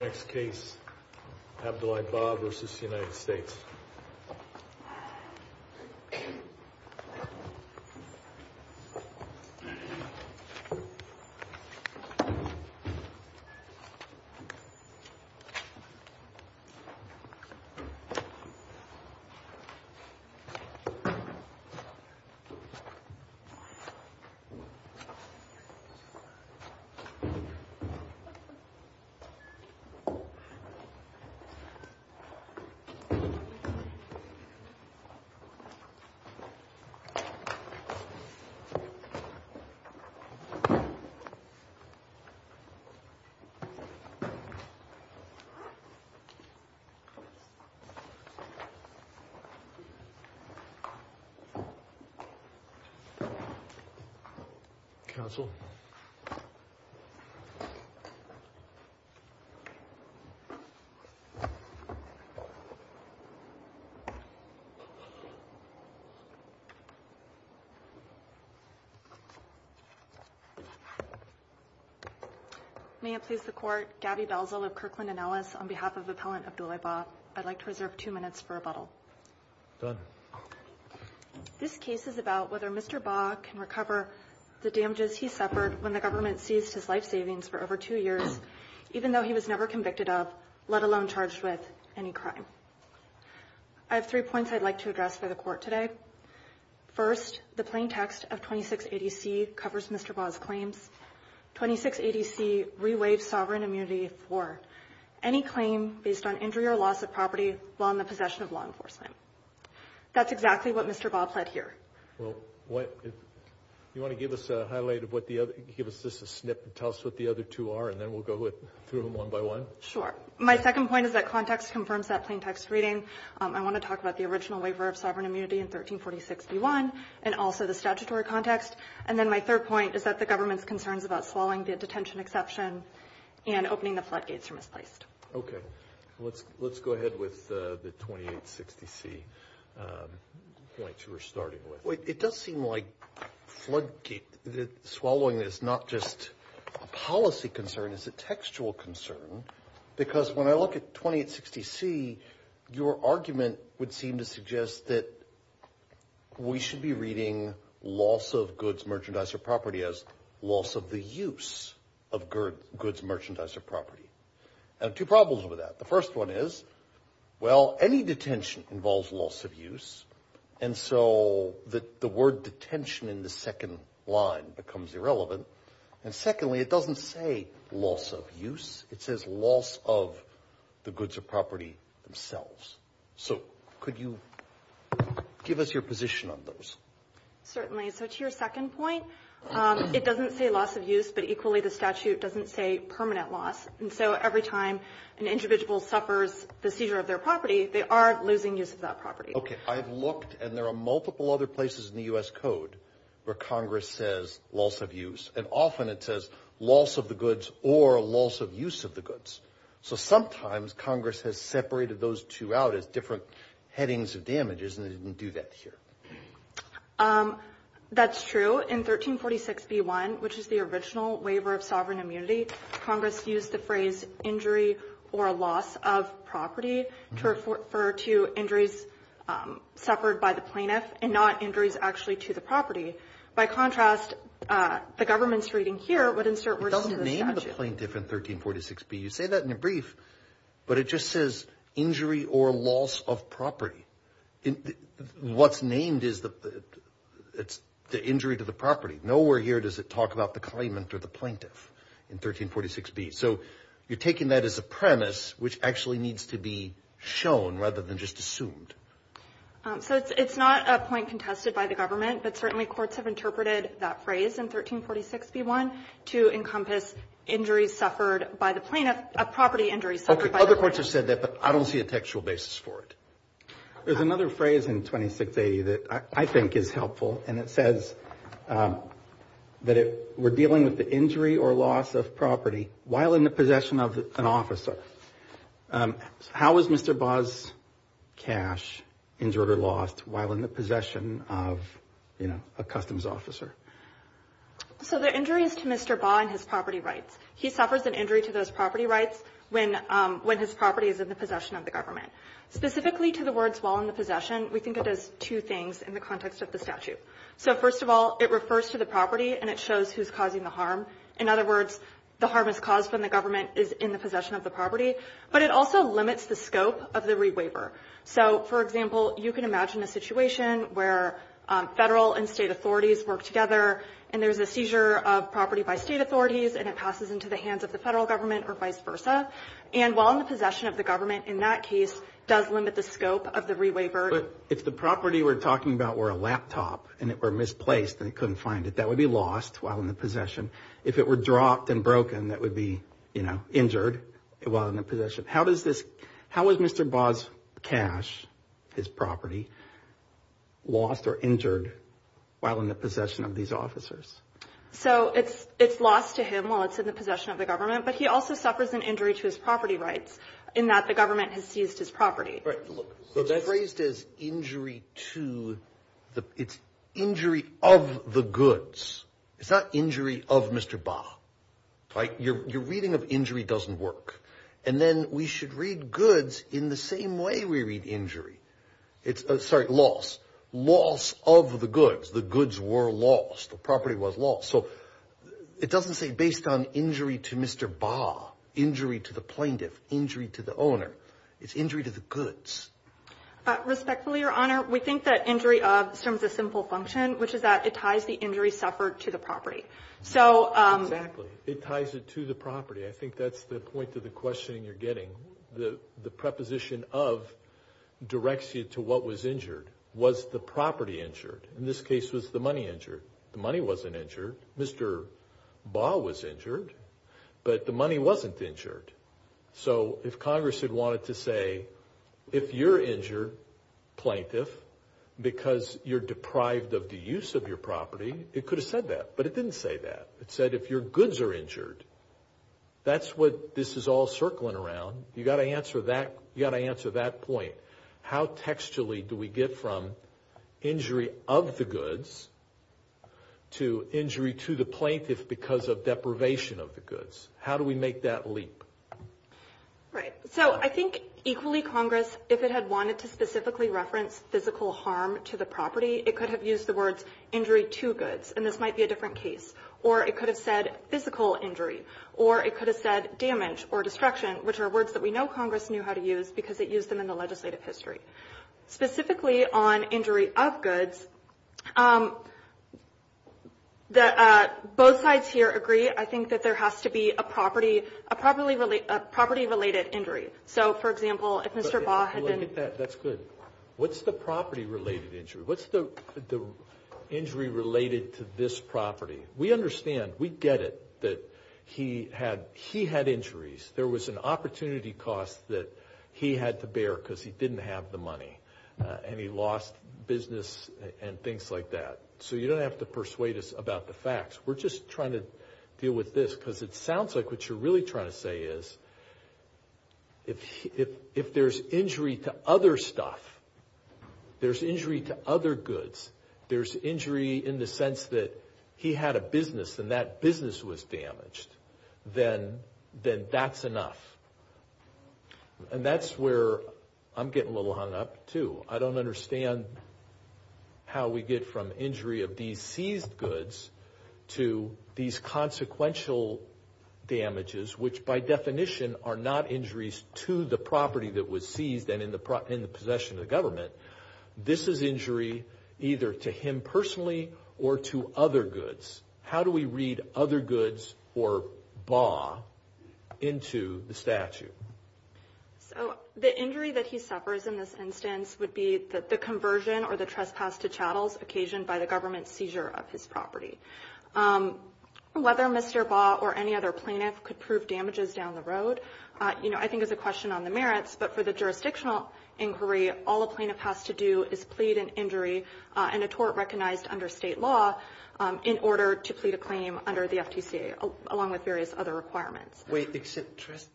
Next case, Abdoulai Bah v. United States Next case, Abdoulai Bah v. United States May it please the Court, Gabby Belzal of Kirkland & Ellis, on behalf of Appellant Abdoulai Bah, I'd like to reserve two minutes for rebuttal. Done. This case is about whether Mr. Bah can recover the damages he suffered when the government seized his life savings for over two years, even though he was never convicted of, let alone charged with, any crime. I have three points I'd like to address for the Court today. First, the plain text of 2680C covers Mr. Bah's claims. 2680C rewaives sovereign immunity for any claim based on injury or loss of property while in the possession of law enforcement. That's exactly what Mr. Bah pled here. Well, you want to give us a highlight of what the other, give us just a snip and tell us what the other two are and then we'll go through them one by one? Sure. My second point is that context confirms that plain text reading. I want to talk about the original waiver of sovereign immunity in 1346B1 and also the statutory context. And then my third point is that the government's concerns about swallowing the detention exception and opening the floodgates are misplaced. Okay. Let's go ahead with the 2860C points you were starting with. It does seem like floodgate swallowing is not just a policy concern, it's a textual concern. Because when I look at 2860C, your argument would seem to suggest that we should be reading loss of goods, merchandise, or property as loss of the use of goods, merchandise, or property. I have two problems with that. The first one is, well, any detention involves loss of use. And so the word detention in the second line becomes irrelevant. And secondly, it doesn't say loss of use. It says loss of the goods or property themselves. So could you give us your position on those? Certainly. So to your second point, it doesn't say loss of use, but equally the statute doesn't say permanent loss. And so every time an individual suffers the seizure of their property, they are losing use of that property. Okay. I've looked, and there are multiple other places in the U.S. Code where Congress says loss of use. And often it says loss of the goods or loss of use of the goods. So sometimes Congress has separated those two out as different headings of damages, and they didn't do that here. That's true. In 1346b-1, which is the original waiver of sovereign immunity, Congress used the phrase injury or loss of property to refer to injuries suffered by the plaintiff and not injuries actually to the property. By contrast, the government's reading here would insert words to the statute. It doesn't name the plaintiff in 1346b. You say that in your brief, but it just says injury or loss of property. What's named is the injury to the property. Nowhere here does it talk about the claimant or the plaintiff in 1346b. So you're taking that as a premise which actually needs to be shown rather than just assumed. So it's not a point contested by the government, but certainly courts have interpreted that phrase in 1346b-1 to encompass injuries suffered by the plaintiff, property injuries suffered by the plaintiff. Other courts have said that, but I don't see a textual basis for it. There's another phrase in 2680 that I think is helpful, and it says that we're dealing with the injury or loss of property while in the possession of an officer. How is Mr. Baugh's cash injured or lost while in the possession of a customs officer? So the injury is to Mr. Baugh and his property rights. He suffers an injury to those property rights when his property is in the possession of the government. Specifically to the words while in the possession, we think it does two things in the context of the statute. So first of all, it refers to the property and it shows who's causing the harm. In other words, the harm is caused when the government is in the possession of the property, but it also limits the scope of the rewaiver. So, for example, you can imagine a situation where Federal and State authorities work together and there's a seizure of property by State authorities and it passes into the hands of the Federal government or vice versa. And while in the possession of the government, in that case, does limit the scope of the rewaiver. But if the property we're talking about were a laptop and it were misplaced and it couldn't find it, that would be lost while in the possession. If it were dropped and broken, that would be, you know, injured while in the possession. How is Mr. Baugh's cash, his property, lost or injured while in the possession of these officers? So it's lost to him while it's in the possession of the government, but he also suffers an injury to his property rights in that the government has seized his property. It's phrased as injury to, it's injury of the goods. It's not injury of Mr. Baugh. Your reading of injury doesn't work. And then we should read goods in the same way we read injury. Sorry, loss. Loss of the goods. The goods were lost. The property was lost. So it doesn't say based on injury to Mr. Baugh, injury to the plaintiff, injury to the owner. It's injury to the goods. Respectfully, Your Honor, we think that injury serves a simple function, which is that it ties the injury suffered to the property. Exactly. It ties it to the property. I think that's the point of the questioning you're getting. The preposition of directs you to what was injured. Was the property injured? In this case, was the money injured? The money wasn't injured. Mr. Baugh was injured, but the money wasn't injured. So if Congress had wanted to say, if you're injured, plaintiff, because you're deprived of the use of your property, it could have said that. But it didn't say that. It said, if your goods are injured, that's what this is all circling around. You've got to answer that point. How textually do we get from injury of the goods to injury to the plaintiff because of deprivation of the goods? How do we make that leap? Right. So I think, equally, Congress, if it had wanted to specifically reference physical harm to the property, it could have used the words injury to goods, and this might be a different case. Or it could have said physical injury, or it could have said damage or destruction, which are words that we know Congress knew how to use because it used them in the legislative history. Specifically on injury of goods, both sides here agree. I think that there has to be a property-related injury. So, for example, if Mr. Baugh had been – That's good. What's the property-related injury? What's the injury related to this property? We understand. We get it that he had injuries. There was an opportunity cost that he had to bear because he didn't have the money, and he lost business and things like that. So you don't have to persuade us about the facts. We're just trying to deal with this because it sounds like what you're really trying to say is if there's injury to other stuff, there's injury to other goods, there's injury in the sense that he had a business and that business was damaged, then that's enough. And that's where I'm getting a little hung up, too. I don't understand how we get from injury of these seized goods to these consequential damages, which by definition are not injuries to the property that was seized and in the possession of the government. This is injury either to him personally or to other goods. How do we read other goods or Baugh into the statute? So the injury that he suffers in this instance would be the conversion or the trespass to chattels occasioned by the government's seizure of his property. Whether Mr. Baugh or any other plaintiff could prove damages down the road, you know, I think is a question on the merits, but for the jurisdictional inquiry, all a plaintiff has to do is plead an injury and a tort recognized under state law in order to plead a claim under the FTC, along with various other requirements. Wait,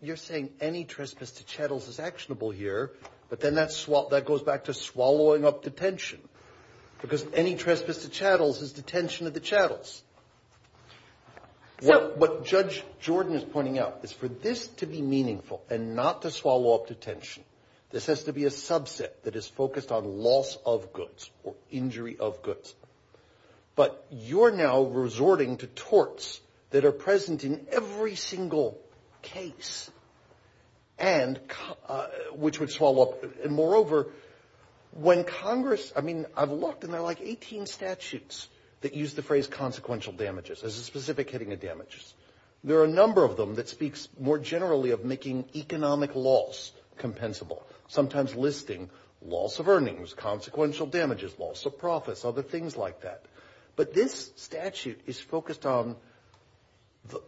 you're saying any trespass to chattels is actionable here, but then that goes back to swallowing up detention because any trespass to chattels is detention of the chattels. What Judge Jordan is pointing out is for this to be meaningful and not to swallow up detention, this has to be a subset that is focused on loss of goods or injury of goods. But you're now resorting to torts that are present in every single case and which would swallow up. And moreover, when Congress, I mean, I've looked and there are like 18 statutes that use the phrase consequential damages as a specific hitting of damages. There are a number of them that speaks more generally of making economic loss compensable, sometimes listing loss of earnings, consequential damages, loss of profits, other things like that. But this statute is focused on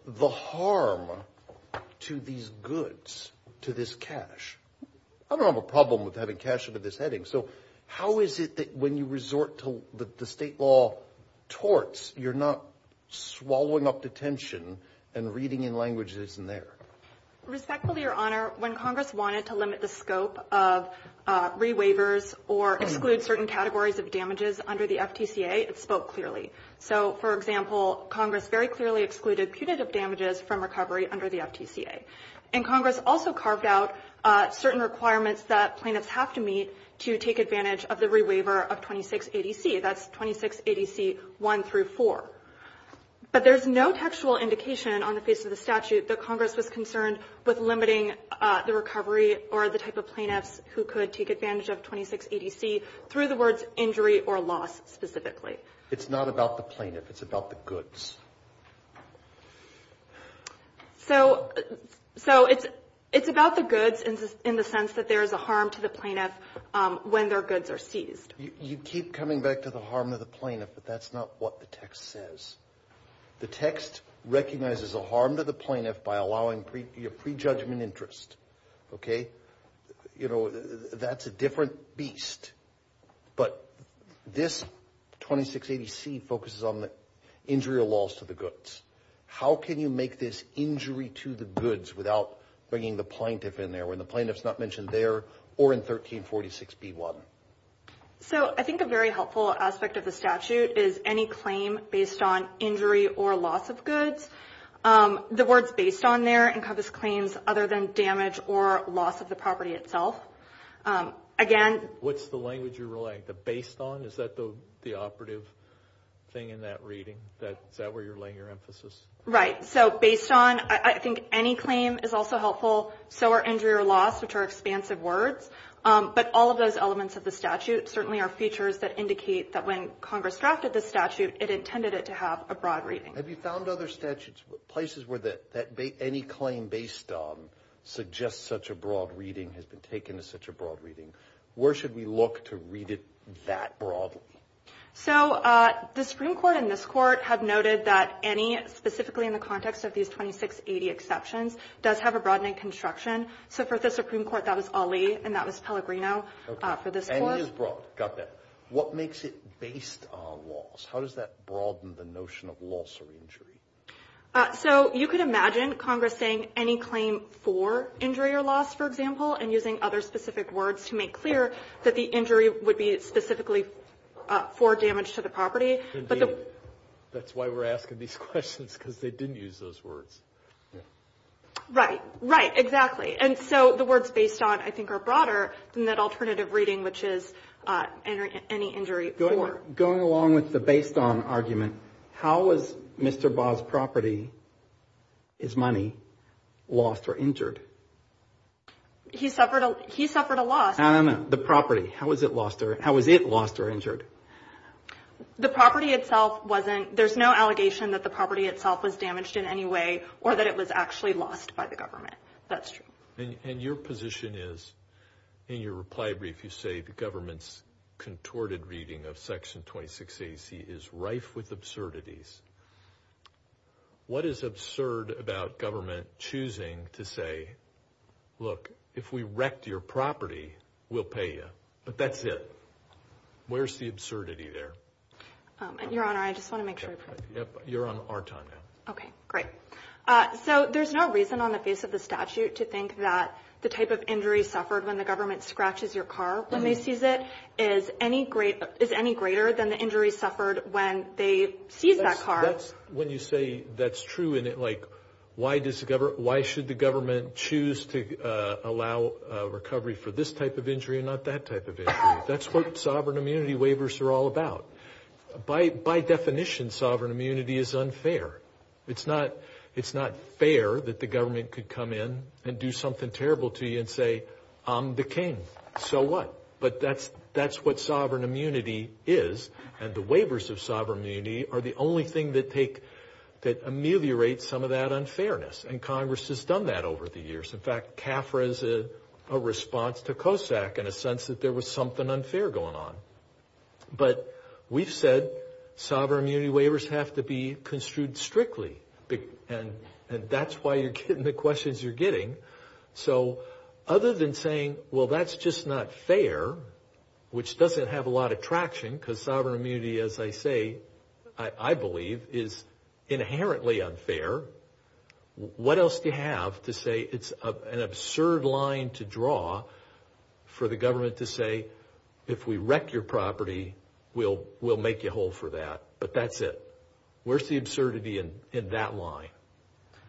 the harm to these goods, to this cash. I don't have a problem with having cash under this heading. So how is it that when you resort to the state law torts, you're not swallowing up detention and reading in languages that isn't there? Respectfully, Your Honor, when Congress wanted to limit the scope of re-waivers or exclude certain categories of damages under the FTCA, it spoke clearly. So, for example, Congress very clearly excluded punitive damages from recovery under the FTCA. And Congress also carved out certain requirements that plaintiffs have to meet to take advantage of the re-waiver of 26 ADC. That's 26 ADC 1 through 4. But there's no textual indication on the face of the statute that Congress was concerned with limiting the recovery or the type of plaintiffs who could take advantage of 26 ADC through the words injury or loss specifically. It's not about the plaintiff. It's about the goods. So it's about the goods in the sense that there is a harm to the plaintiff when their goods are seized. You keep coming back to the harm to the plaintiff, but that's not what the text says. The text recognizes a harm to the plaintiff by allowing pre-judgment interest. Okay? You know, that's a different beast. But this 26 ADC focuses on the injury or loss to the goods. How can you make this injury to the goods without bringing the plaintiff in there when the plaintiff is not mentioned there or in 1346B1? So I think a very helpful aspect of the statute is any claim based on injury or loss of goods. The words based on there encompass claims other than damage or loss of the property itself. Again. What's the language you're relaying? The based on? Is that the operative thing in that reading? Is that where you're laying your emphasis? Right. So based on. I think any claim is also helpful. So are injury or loss, which are expansive words. But all of those elements of the statute certainly are features that indicate that when Congress drafted the statute, it intended it to have a broad reading. Have you found other statutes, places where any claim based on suggests such a broad reading has been taken as such a broad reading? Where should we look to read it that broadly? So the Supreme Court and this court have noted that any, specifically in the context of these 26 ADC exceptions, does have a broadening construction. So for the Supreme Court, that was Ali, and that was Pellegrino for this court. And it is broad. Got that. What makes it based on loss? How does that broaden the notion of loss or injury? So you could imagine Congress saying any claim for injury or loss, for example, and using other specific words to make clear that the injury would be specifically for damage to the property. That's why we're asking these questions, because they didn't use those words. Right. Right. Exactly. And so the words based on, I think, are broader than that alternative reading, which is any injury for. Going along with the based on argument, how was Mr. Baugh's property, his money, lost or injured? He suffered a loss. No, no, no. The property. How was it lost or injured? The property itself wasn't. There's no allegation that the property itself was damaged in any way or that it was actually lost by the government. That's true. And your position is, in your reply brief, you say the government's contorted reading of Section 26 AC is rife with absurdities. What is absurd about government choosing to say, look, if we wrecked your property, we'll pay you, but that's it? Where's the absurdity there? Your Honor, I just want to make sure. You're on our time now. Okay, great. So there's no reason on the face of the statute to think that the type of injury suffered when the government scratches your car when they seize it is any greater than the injury suffered when they seized that car. When you say that's true, why should the government choose to allow recovery for this type of injury and not that type of injury? That's what sovereign immunity waivers are all about. By definition, sovereign immunity is unfair. It's not fair that the government could come in and do something terrible to you and say, I'm the king, so what? But that's what sovereign immunity is, and the waivers of sovereign immunity are the only thing that ameliorate some of that unfairness. And Congress has done that over the years. In fact, CAFRA is a response to COSAC in a sense that there was something unfair going on. But we've said sovereign immunity waivers have to be construed strictly, and that's why you're getting the questions you're getting. So other than saying, well, that's just not fair, which doesn't have a lot of traction because sovereign immunity, as I say, I believe, is inherently unfair, what else do you have to say it's an absurd line to draw for the government to say, if we wreck your property, we'll make you whole for that? But that's it. Where's the absurdity in that line?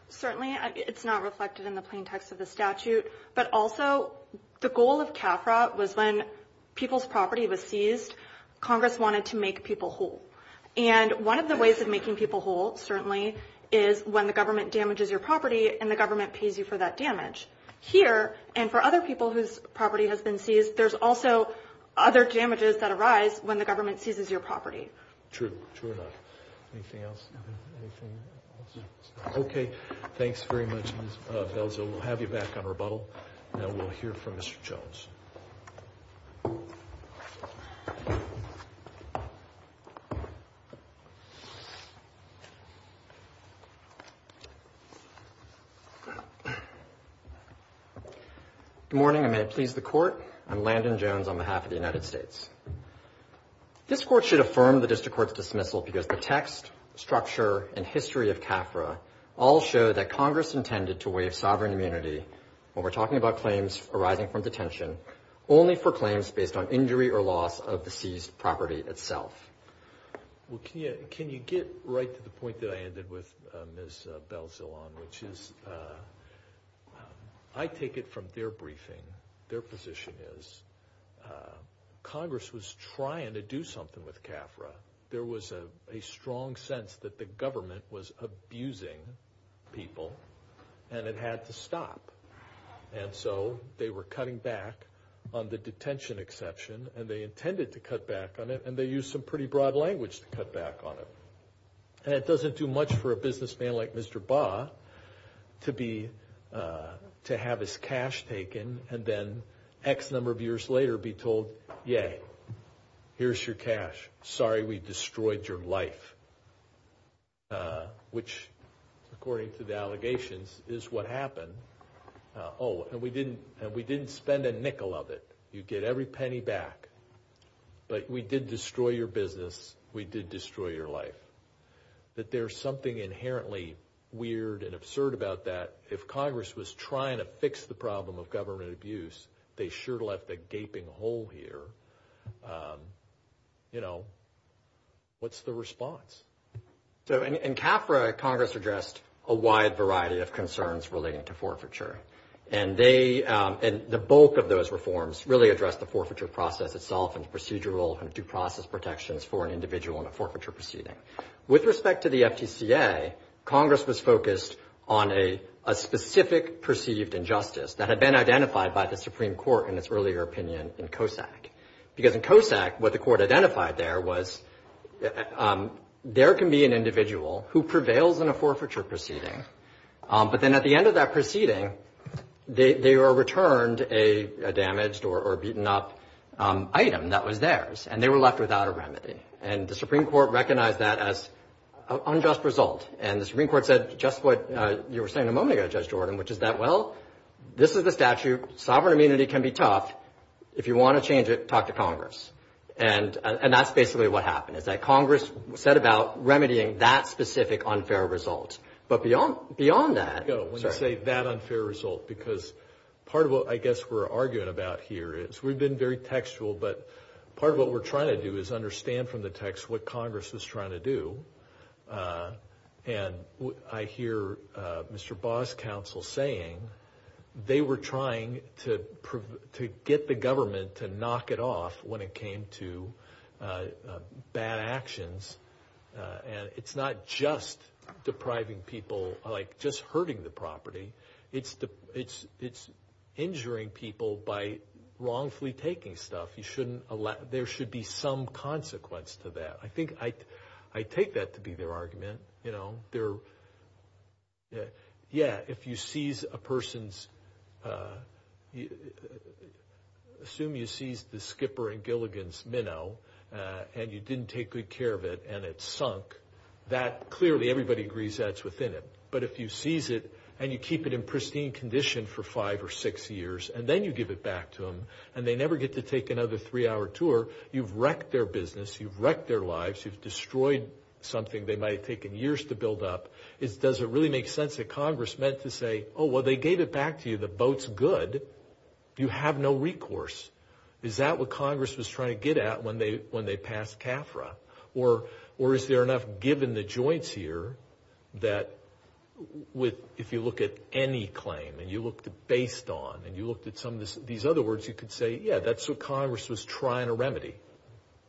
Certainly, it's not reflected in the plain text of the statute. But also, the goal of CAFRA was when people's property was seized, Congress wanted to make people whole. And one of the ways of making people whole, certainly, is when the government damages your property and the government pays you for that damage. Here, and for other people whose property has been seized, there's also other damages that arise when the government seizes your property. True, true enough. Anything else? Anything else? Okay. Thanks very much, Ms. Belzo. We'll have you back on rebuttal, and we'll hear from Mr. Jones. Good morning, and may it please the court. I'm Landon Jones on behalf of the United States. This court should affirm the district court's dismissal because the text, structure, and history of CAFRA all show that Congress intended to waive sovereign immunity, when we're talking about claims arising from detention, only for claims based on injury or loss of the seized property itself. Well, can you get right to the point that I ended with, Ms. Belzolan, which is I take it from their briefing, their position is Congress was trying to do something with CAFRA. There was a strong sense that the government was abusing people, and it had to stop. And so they were cutting back on the detention exception, and they intended to cut back on it, and they used some pretty broad language to cut back on it. And it doesn't do much for a businessman like Mr. Baugh to have his cash taken and then X number of years later be told, yay, here's your cash. Sorry we destroyed your life, which, according to the allegations, is what happened. Oh, and we didn't spend a nickel of it. You get every penny back. But we did destroy your business. We did destroy your life. That there's something inherently weird and absurd about that. If Congress was trying to fix the problem of government abuse, they sure left a gaping hole here. You know, what's the response? So in CAFRA, Congress addressed a wide variety of concerns relating to forfeiture. And the bulk of those reforms really addressed the forfeiture process itself and procedural and due process protections for an individual in a forfeiture proceeding. With respect to the FTCA, Congress was focused on a specific perceived injustice that had been identified by the Supreme Court in its earlier opinion in COSAC. Because in COSAC, what the court identified there was there can be an individual who prevails in a forfeiture proceeding. But then at the end of that proceeding, they were returned a damaged or beaten up item that was theirs. And they were left without a remedy. And the Supreme Court recognized that as an unjust result. And the Supreme Court said just what you were saying a moment ago, Judge Jordan, which is that, well, this is the statute. Sovereign immunity can be tough. If you want to change it, talk to Congress. And that's basically what happened is that Congress set about remedying that specific unfair result. But beyond that. When you say that unfair result, because part of what I guess we're arguing about here is we've been very textual. But part of what we're trying to do is understand from the text what Congress is trying to do. And I hear Mr. Baugh's counsel saying they were trying to get the government to knock it off when it came to bad actions. And it's not just depriving people, like just hurting the property. It's injuring people by wrongfully taking stuff. There should be some consequence to that. I think I take that to be their argument. Yeah, if you seize a person's, assume you seized the Skipper and Gilligan's minnow. And you didn't take good care of it and it sunk. That clearly everybody agrees that's within it. But if you seize it and you keep it in pristine condition for five or six years. And then you give it back to them. And they never get to take another three-hour tour. You've wrecked their business. You've wrecked their lives. You've destroyed something they might have taken years to build up. Does it really make sense that Congress meant to say, oh, well, they gave it back to you. The boat's good. You have no recourse. Is that what Congress was trying to get at when they passed CAFRA? Or is there enough given the joints here that if you look at any claim and you looked at based on and you looked at some of these other words, you could say, yeah, that's what Congress was trying to remedy.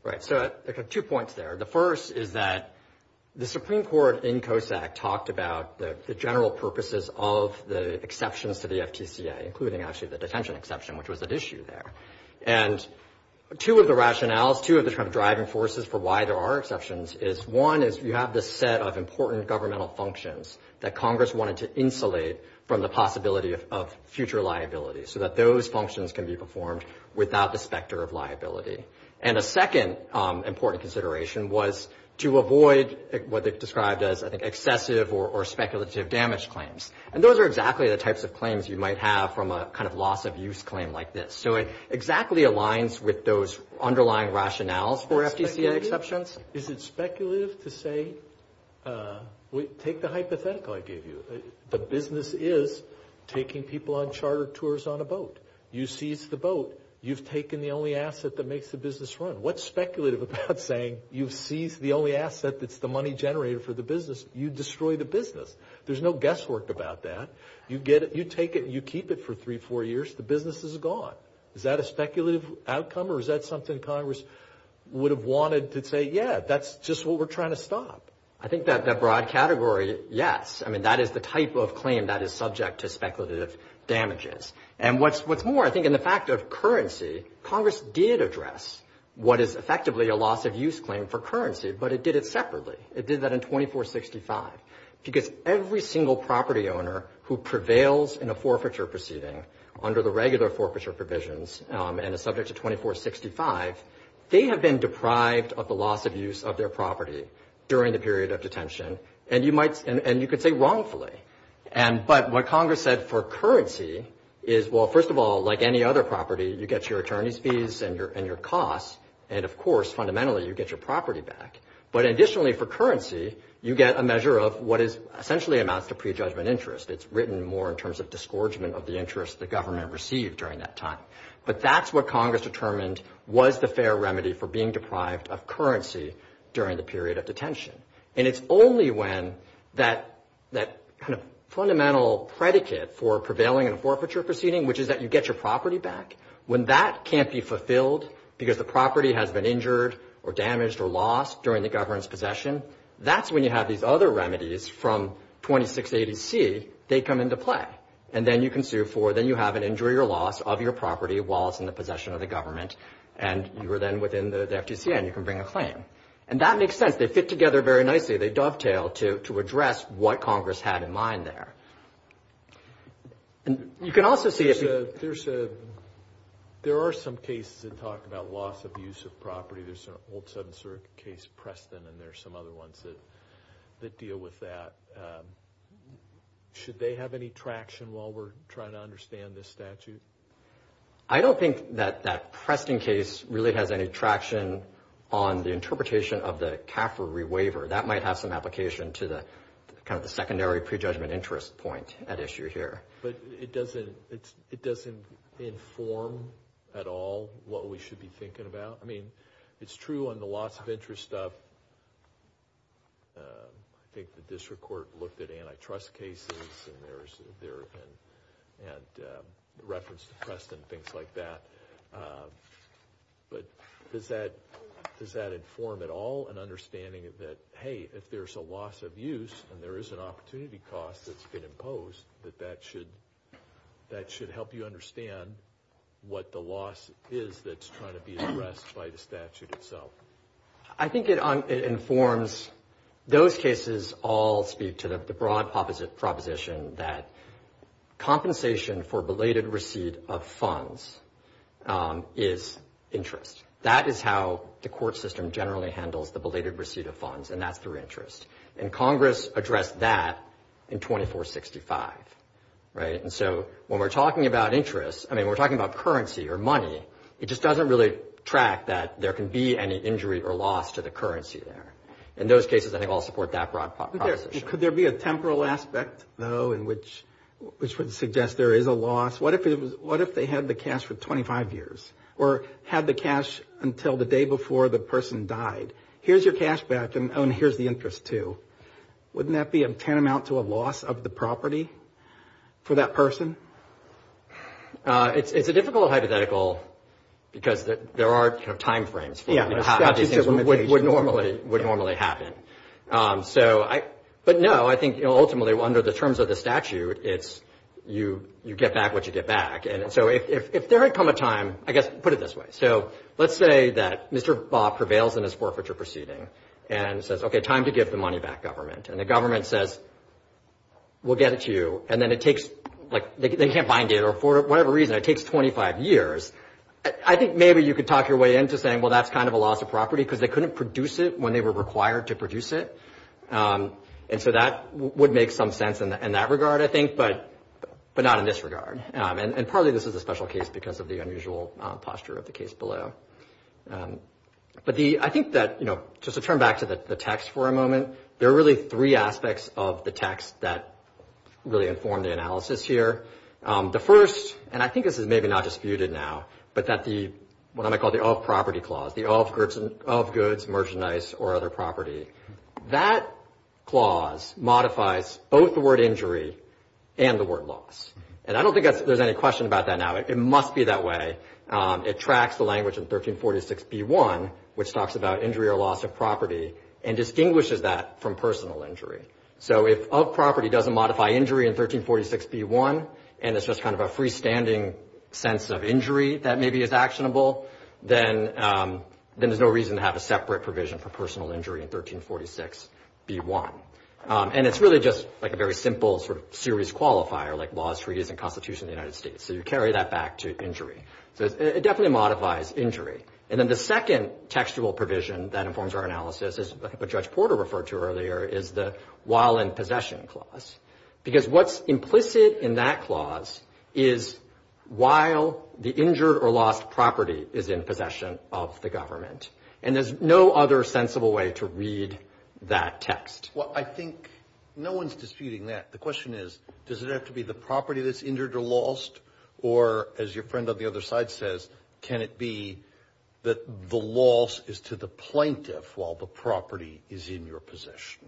Right, so two points there. The first is that the Supreme Court in COSAC talked about the general purposes of the exceptions to the FTCA, including actually the detention exception, which was at issue there. And two of the rationales, two of the driving forces for why there are exceptions is, one is you have this set of important governmental functions that Congress wanted to insulate from the possibility of future liability so that those functions can be performed without the specter of liability. And a second important consideration was to avoid what they've described as, I think, excessive or speculative damage claims. And those are exactly the types of claims you might have from a kind of loss of use claim like this. So it exactly aligns with those underlying rationales for FTCA exceptions. Is it speculative to say, take the hypothetical I gave you. The business is taking people on charter tours on a boat. You seize the boat, you've taken the only asset that makes the business run. What's speculative about saying you've seized the only asset that's the money generated for the business? You destroy the business. There's no guesswork about that. You get it, you take it, you keep it for three, four years, the business is gone. Is that a speculative outcome or is that something Congress would have wanted to say, yeah, that's just what we're trying to stop? I think that broad category, yes. I mean, that is the type of claim that is subject to speculative damages. And what's more, I think in the fact of currency, Congress did address what is effectively a loss of use claim for currency, but it did it separately. It did that in 2465 because every single property owner who prevails in a forfeiture proceeding under the regular forfeiture provisions and is subject to 2465, they have been deprived of the loss of use of their property during the period of detention. And you could say wrongfully. But what Congress said for currency is, well, first of all, like any other property, you get your attorney's fees and your costs, and of course, fundamentally, you get your property back. But additionally, for currency, you get a measure of what essentially amounts to prejudgment interest. It's written more in terms of disgorgement of the interest the government received during that time. But that's what Congress determined was the fair remedy for being deprived of currency during the period of detention. And it's only when that kind of fundamental predicate for prevailing in a forfeiture proceeding, which is that you get your property back, when that can't be fulfilled because the property has been injured or damaged or lost during the government's possession, that's when you have these other remedies from 2680C, they come into play. And then you can sue for, then you have an injury or loss of your property while it's in the possession of the government, and you are then within the FTC and you can bring a claim. And that makes sense. They fit together very nicely. They dovetail to address what Congress had in mind there. And you can also see if you... There are some cases that talk about loss of use of property. There's an old Southern circuit case, Preston, and there are some other ones that deal with that. Should they have any traction while we're trying to understand this statute? I don't think that that Preston case really has any traction on the interpretation of the CAFR rewaiver. That might have some application to the kind of the secondary prejudgment interest point at issue here. But it doesn't inform at all what we should be thinking about. I mean, it's true on the loss of interest stuff. I think the district court looked at antitrust cases and reference to Preston and things like that. But does that inform at all an understanding that, hey, if there's a loss of use and there is an opportunity cost that's been imposed, that that should help you understand what the loss is that's trying to be addressed by the statute itself. I think it informs... Those cases all speak to the broad proposition that compensation for belated receipt of funds is interest. That is how the court system generally handles the belated receipt of funds, and that's through interest. And Congress addressed that in 2465. And so when we're talking about interest, I mean, we're talking about currency or money, it just doesn't really track that there can be any injury or loss to the currency there. In those cases, I think I'll support that broad proposition. Could there be a temporal aspect, though, in which would suggest there is a loss? What if they had the cash for 25 years or had the cash until the day before the person died? Here's your cash back, and here's the interest, too. Wouldn't that be a tantamount to a loss of the property for that person? It's a difficult hypothetical because there are timeframes for how these things would normally happen. But, no, I think ultimately, under the terms of the statute, it's you get back what you get back. And so if there had come a time, I guess put it this way. So let's say that Mr. Bob prevails in his forfeiture proceeding and says, okay, time to give the money back, government. And the government says, we'll get it to you. And then it takes, like, they can't find it, or for whatever reason, it takes 25 years. I think maybe you could talk your way into saying, well, that's kind of a loss of property because they couldn't produce it when they were required to produce it. And so that would make some sense in that regard, I think, but not in this regard. And partly this is a special case because of the unusual posture of the case below. But I think that, you know, just to turn back to the text for a moment, there are really three aspects of the text that really inform the analysis here. The first, and I think this is maybe not disputed now, but that the, what I might call the off-property clause, the off goods, merchandise, or other property, that clause modifies both the word injury and the word loss. And I don't think there's any question about that now. It must be that way. It tracks the language in 1346b1, which talks about injury or loss of property, and distinguishes that from personal injury. So if off-property doesn't modify injury in 1346b1, and it's just kind of a freestanding sense of injury that maybe is actionable, then there's no reason to have a separate provision for personal injury in 1346b1. And it's really just, like, a very simple sort of series qualifier, like laws, treaties, and constitution of the United States. So you carry that back to injury. So it definitely modifies injury. And then the second textual provision that informs our analysis, as Judge Porter referred to earlier, is the while in possession clause. Because what's implicit in that clause is while the injured or lost property is in possession of the government. And there's no other sensible way to read that text. Well, I think no one's disputing that. The question is, does it have to be the property that's injured or lost, or, as your friend on the other side says, can it be that the loss is to the plaintiff while the property is in your possession?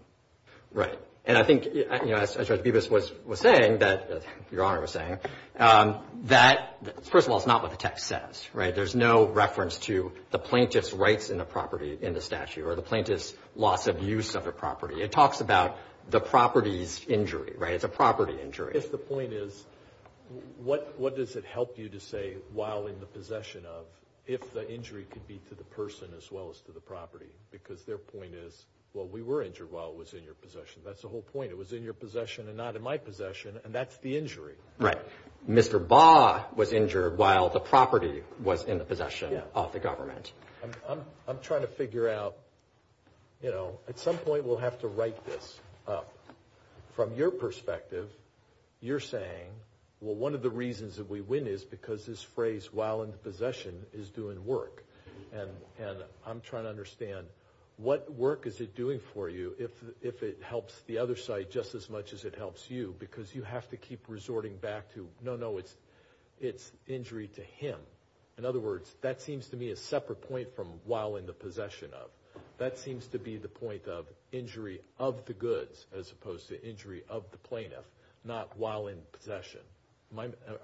Right. And I think, you know, as Judge Bibas was saying, that your Honor was saying, that, first of all, it's not what the text says, right? There's no reference to the plaintiff's rights in the property in the statute or the plaintiff's loss of use of the property. It talks about the property's injury, right? It's a property injury. If the point is, what does it help you to say while in the possession of, if the injury could be to the person as well as to the property? Because their point is, well, we were injured while it was in your possession. That's the whole point. It was in your possession and not in my possession, and that's the injury. Right. Mr. Baugh was injured while the property was in the possession of the government. I'm trying to figure out, you know, at some point we'll have to write this up. From your perspective, you're saying, well, one of the reasons that we win is because this phrase, while in possession, is doing work. And I'm trying to understand, what work is it doing for you if it helps the other side just as much as it helps you? Because you have to keep resorting back to, no, no, it's injury to him. In other words, that seems to me a separate point from while in the possession of. That seems to be the point of injury of the goods as opposed to injury of the plaintiff, not while in possession.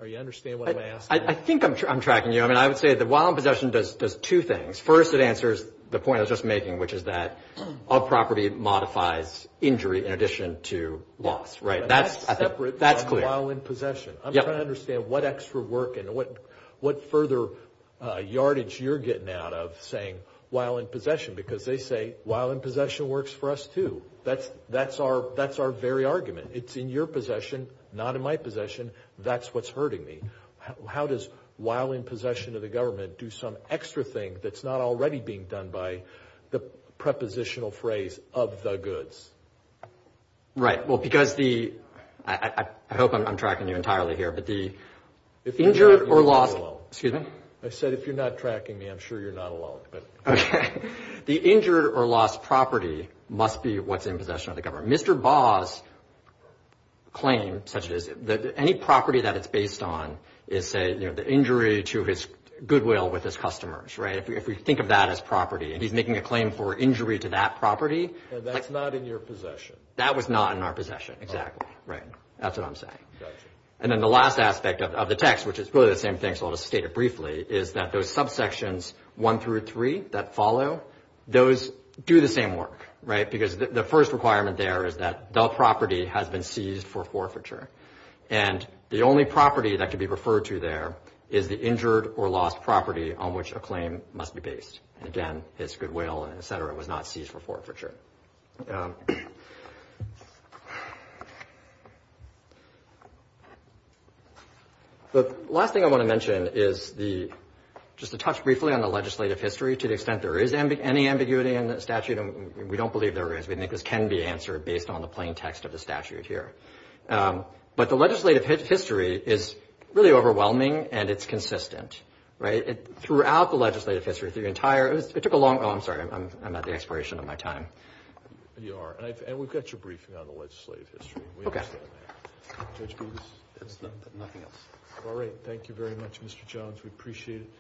Are you understanding what I'm asking? I think I'm tracking you. I mean, I would say that while in possession does two things. First, it answers the point I was just making, which is that a property modifies injury in addition to loss. That's separate from while in possession. I'm trying to understand what extra work and what further yardage you're getting out of saying while in possession, because they say while in possession works for us too. That's our very argument. It's in your possession, not in my possession. That's what's hurting me. How does while in possession of the government do some extra thing that's not already being done by the prepositional phrase of the goods? Right. I hope I'm tracking you entirely here. If you're not tracking me, I'm sure you're not alone. Okay. The injured or lost property must be what's in possession of the government. Mr. Baugh's claim, such as any property that it's based on, is say the injury to his goodwill with his customers, right? If we think of that as property, and he's making a claim for injury to that property. That's not in your possession. That was not in our possession. Exactly. Right. That's what I'm saying. And then the last aspect of the text, which is really the same thing, so I'll just state it briefly, is that those subsections 1 through 3 that follow, those do the same work, right? Because the first requirement there is that the property has been seized for forfeiture. And the only property that can be referred to there is the injured or lost property on which a claim must be based. And, again, his goodwill, et cetera, was not seized for forfeiture. The last thing I want to mention is just to touch briefly on the legislative history to the extent there is any ambiguity in the statute. We don't believe there is. We think this can be answered based on the plain text of the statute here. But the legislative history is really overwhelming and it's consistent, right? And throughout the legislative history, the entire – it took a long – oh, I'm sorry, I'm at the expiration of my time. You are. And we've got your briefing on the legislative history. Okay. We understand that. Judge Booth? Nothing else. All right. Thank you very much, Mr. Jones. We appreciate it.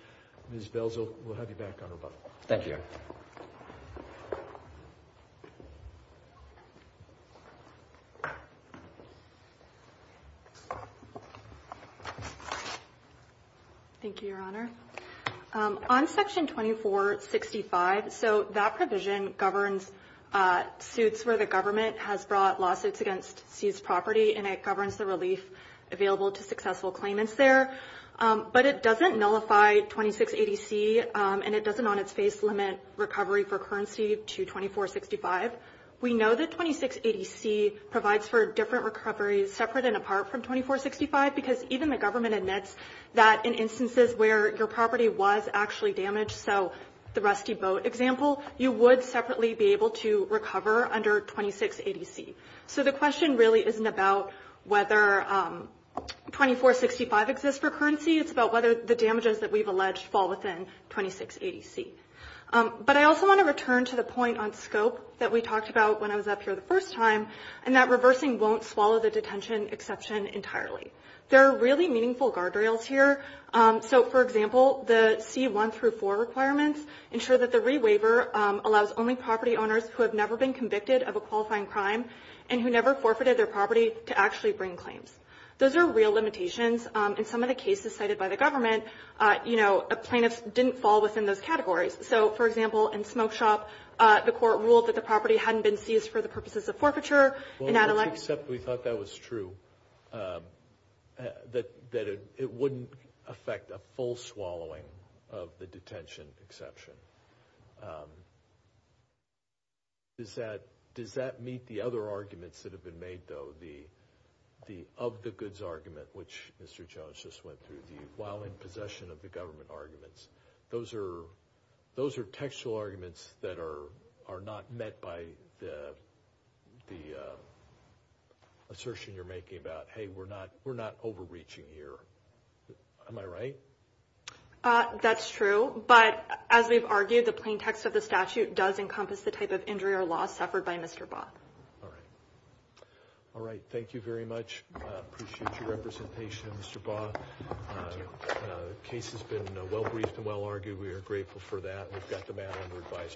Ms. Belzo, we'll have you back on rebuttal. Thank you. Thank you, Your Honor. On Section 2465, so that provision governs suits where the government has brought lawsuits against seized property and it governs the relief available to successful claimants there. But it doesn't nullify 2680C and it doesn't on its face limit recovery for currency to 2465. We know that 2680C provides for different recoveries separate and apart from 2465 because even the government admits that in instances where your property was actually damaged, so the rusty boat example, you would separately be able to recover under 2680C. So the question really isn't about whether 2465 exists for currency. It's about whether the damages that we've alleged fall within 2680C. But I also want to return to the point on scope that we talked about when I was up here the first time and that reversing won't swallow the detention exception entirely. There are really meaningful guardrails here. So, for example, the C1 through 4 requirements ensure that the rewaiver allows only property owners who have never been convicted of a qualifying crime and who never forfeited their property to actually bring claims. Those are real limitations. In some of the cases cited by the government, you know, plaintiffs didn't fall within those categories. So, for example, in Smoke Shop, the court ruled that the property hadn't been seized for the purposes of forfeiture. Well, we thought that was true, that it wouldn't affect a full swallowing of the detention exception. Does that meet the other arguments that have been made, though, of the goods argument, which Mr. Jones just went through, the while in possession of the government arguments? Those are textual arguments that are not met by the assertion you're making about, hey, we're not overreaching here. Am I right? That's true. But as we've argued, the plain text of the statute does encompass the type of injury or loss suffered by Mr. Baugh. All right. All right. Thank you very much. I appreciate your representation, Mr. Baugh. The case has been well-briefed and well-argued. We are grateful for that. We've got the matter under advisory.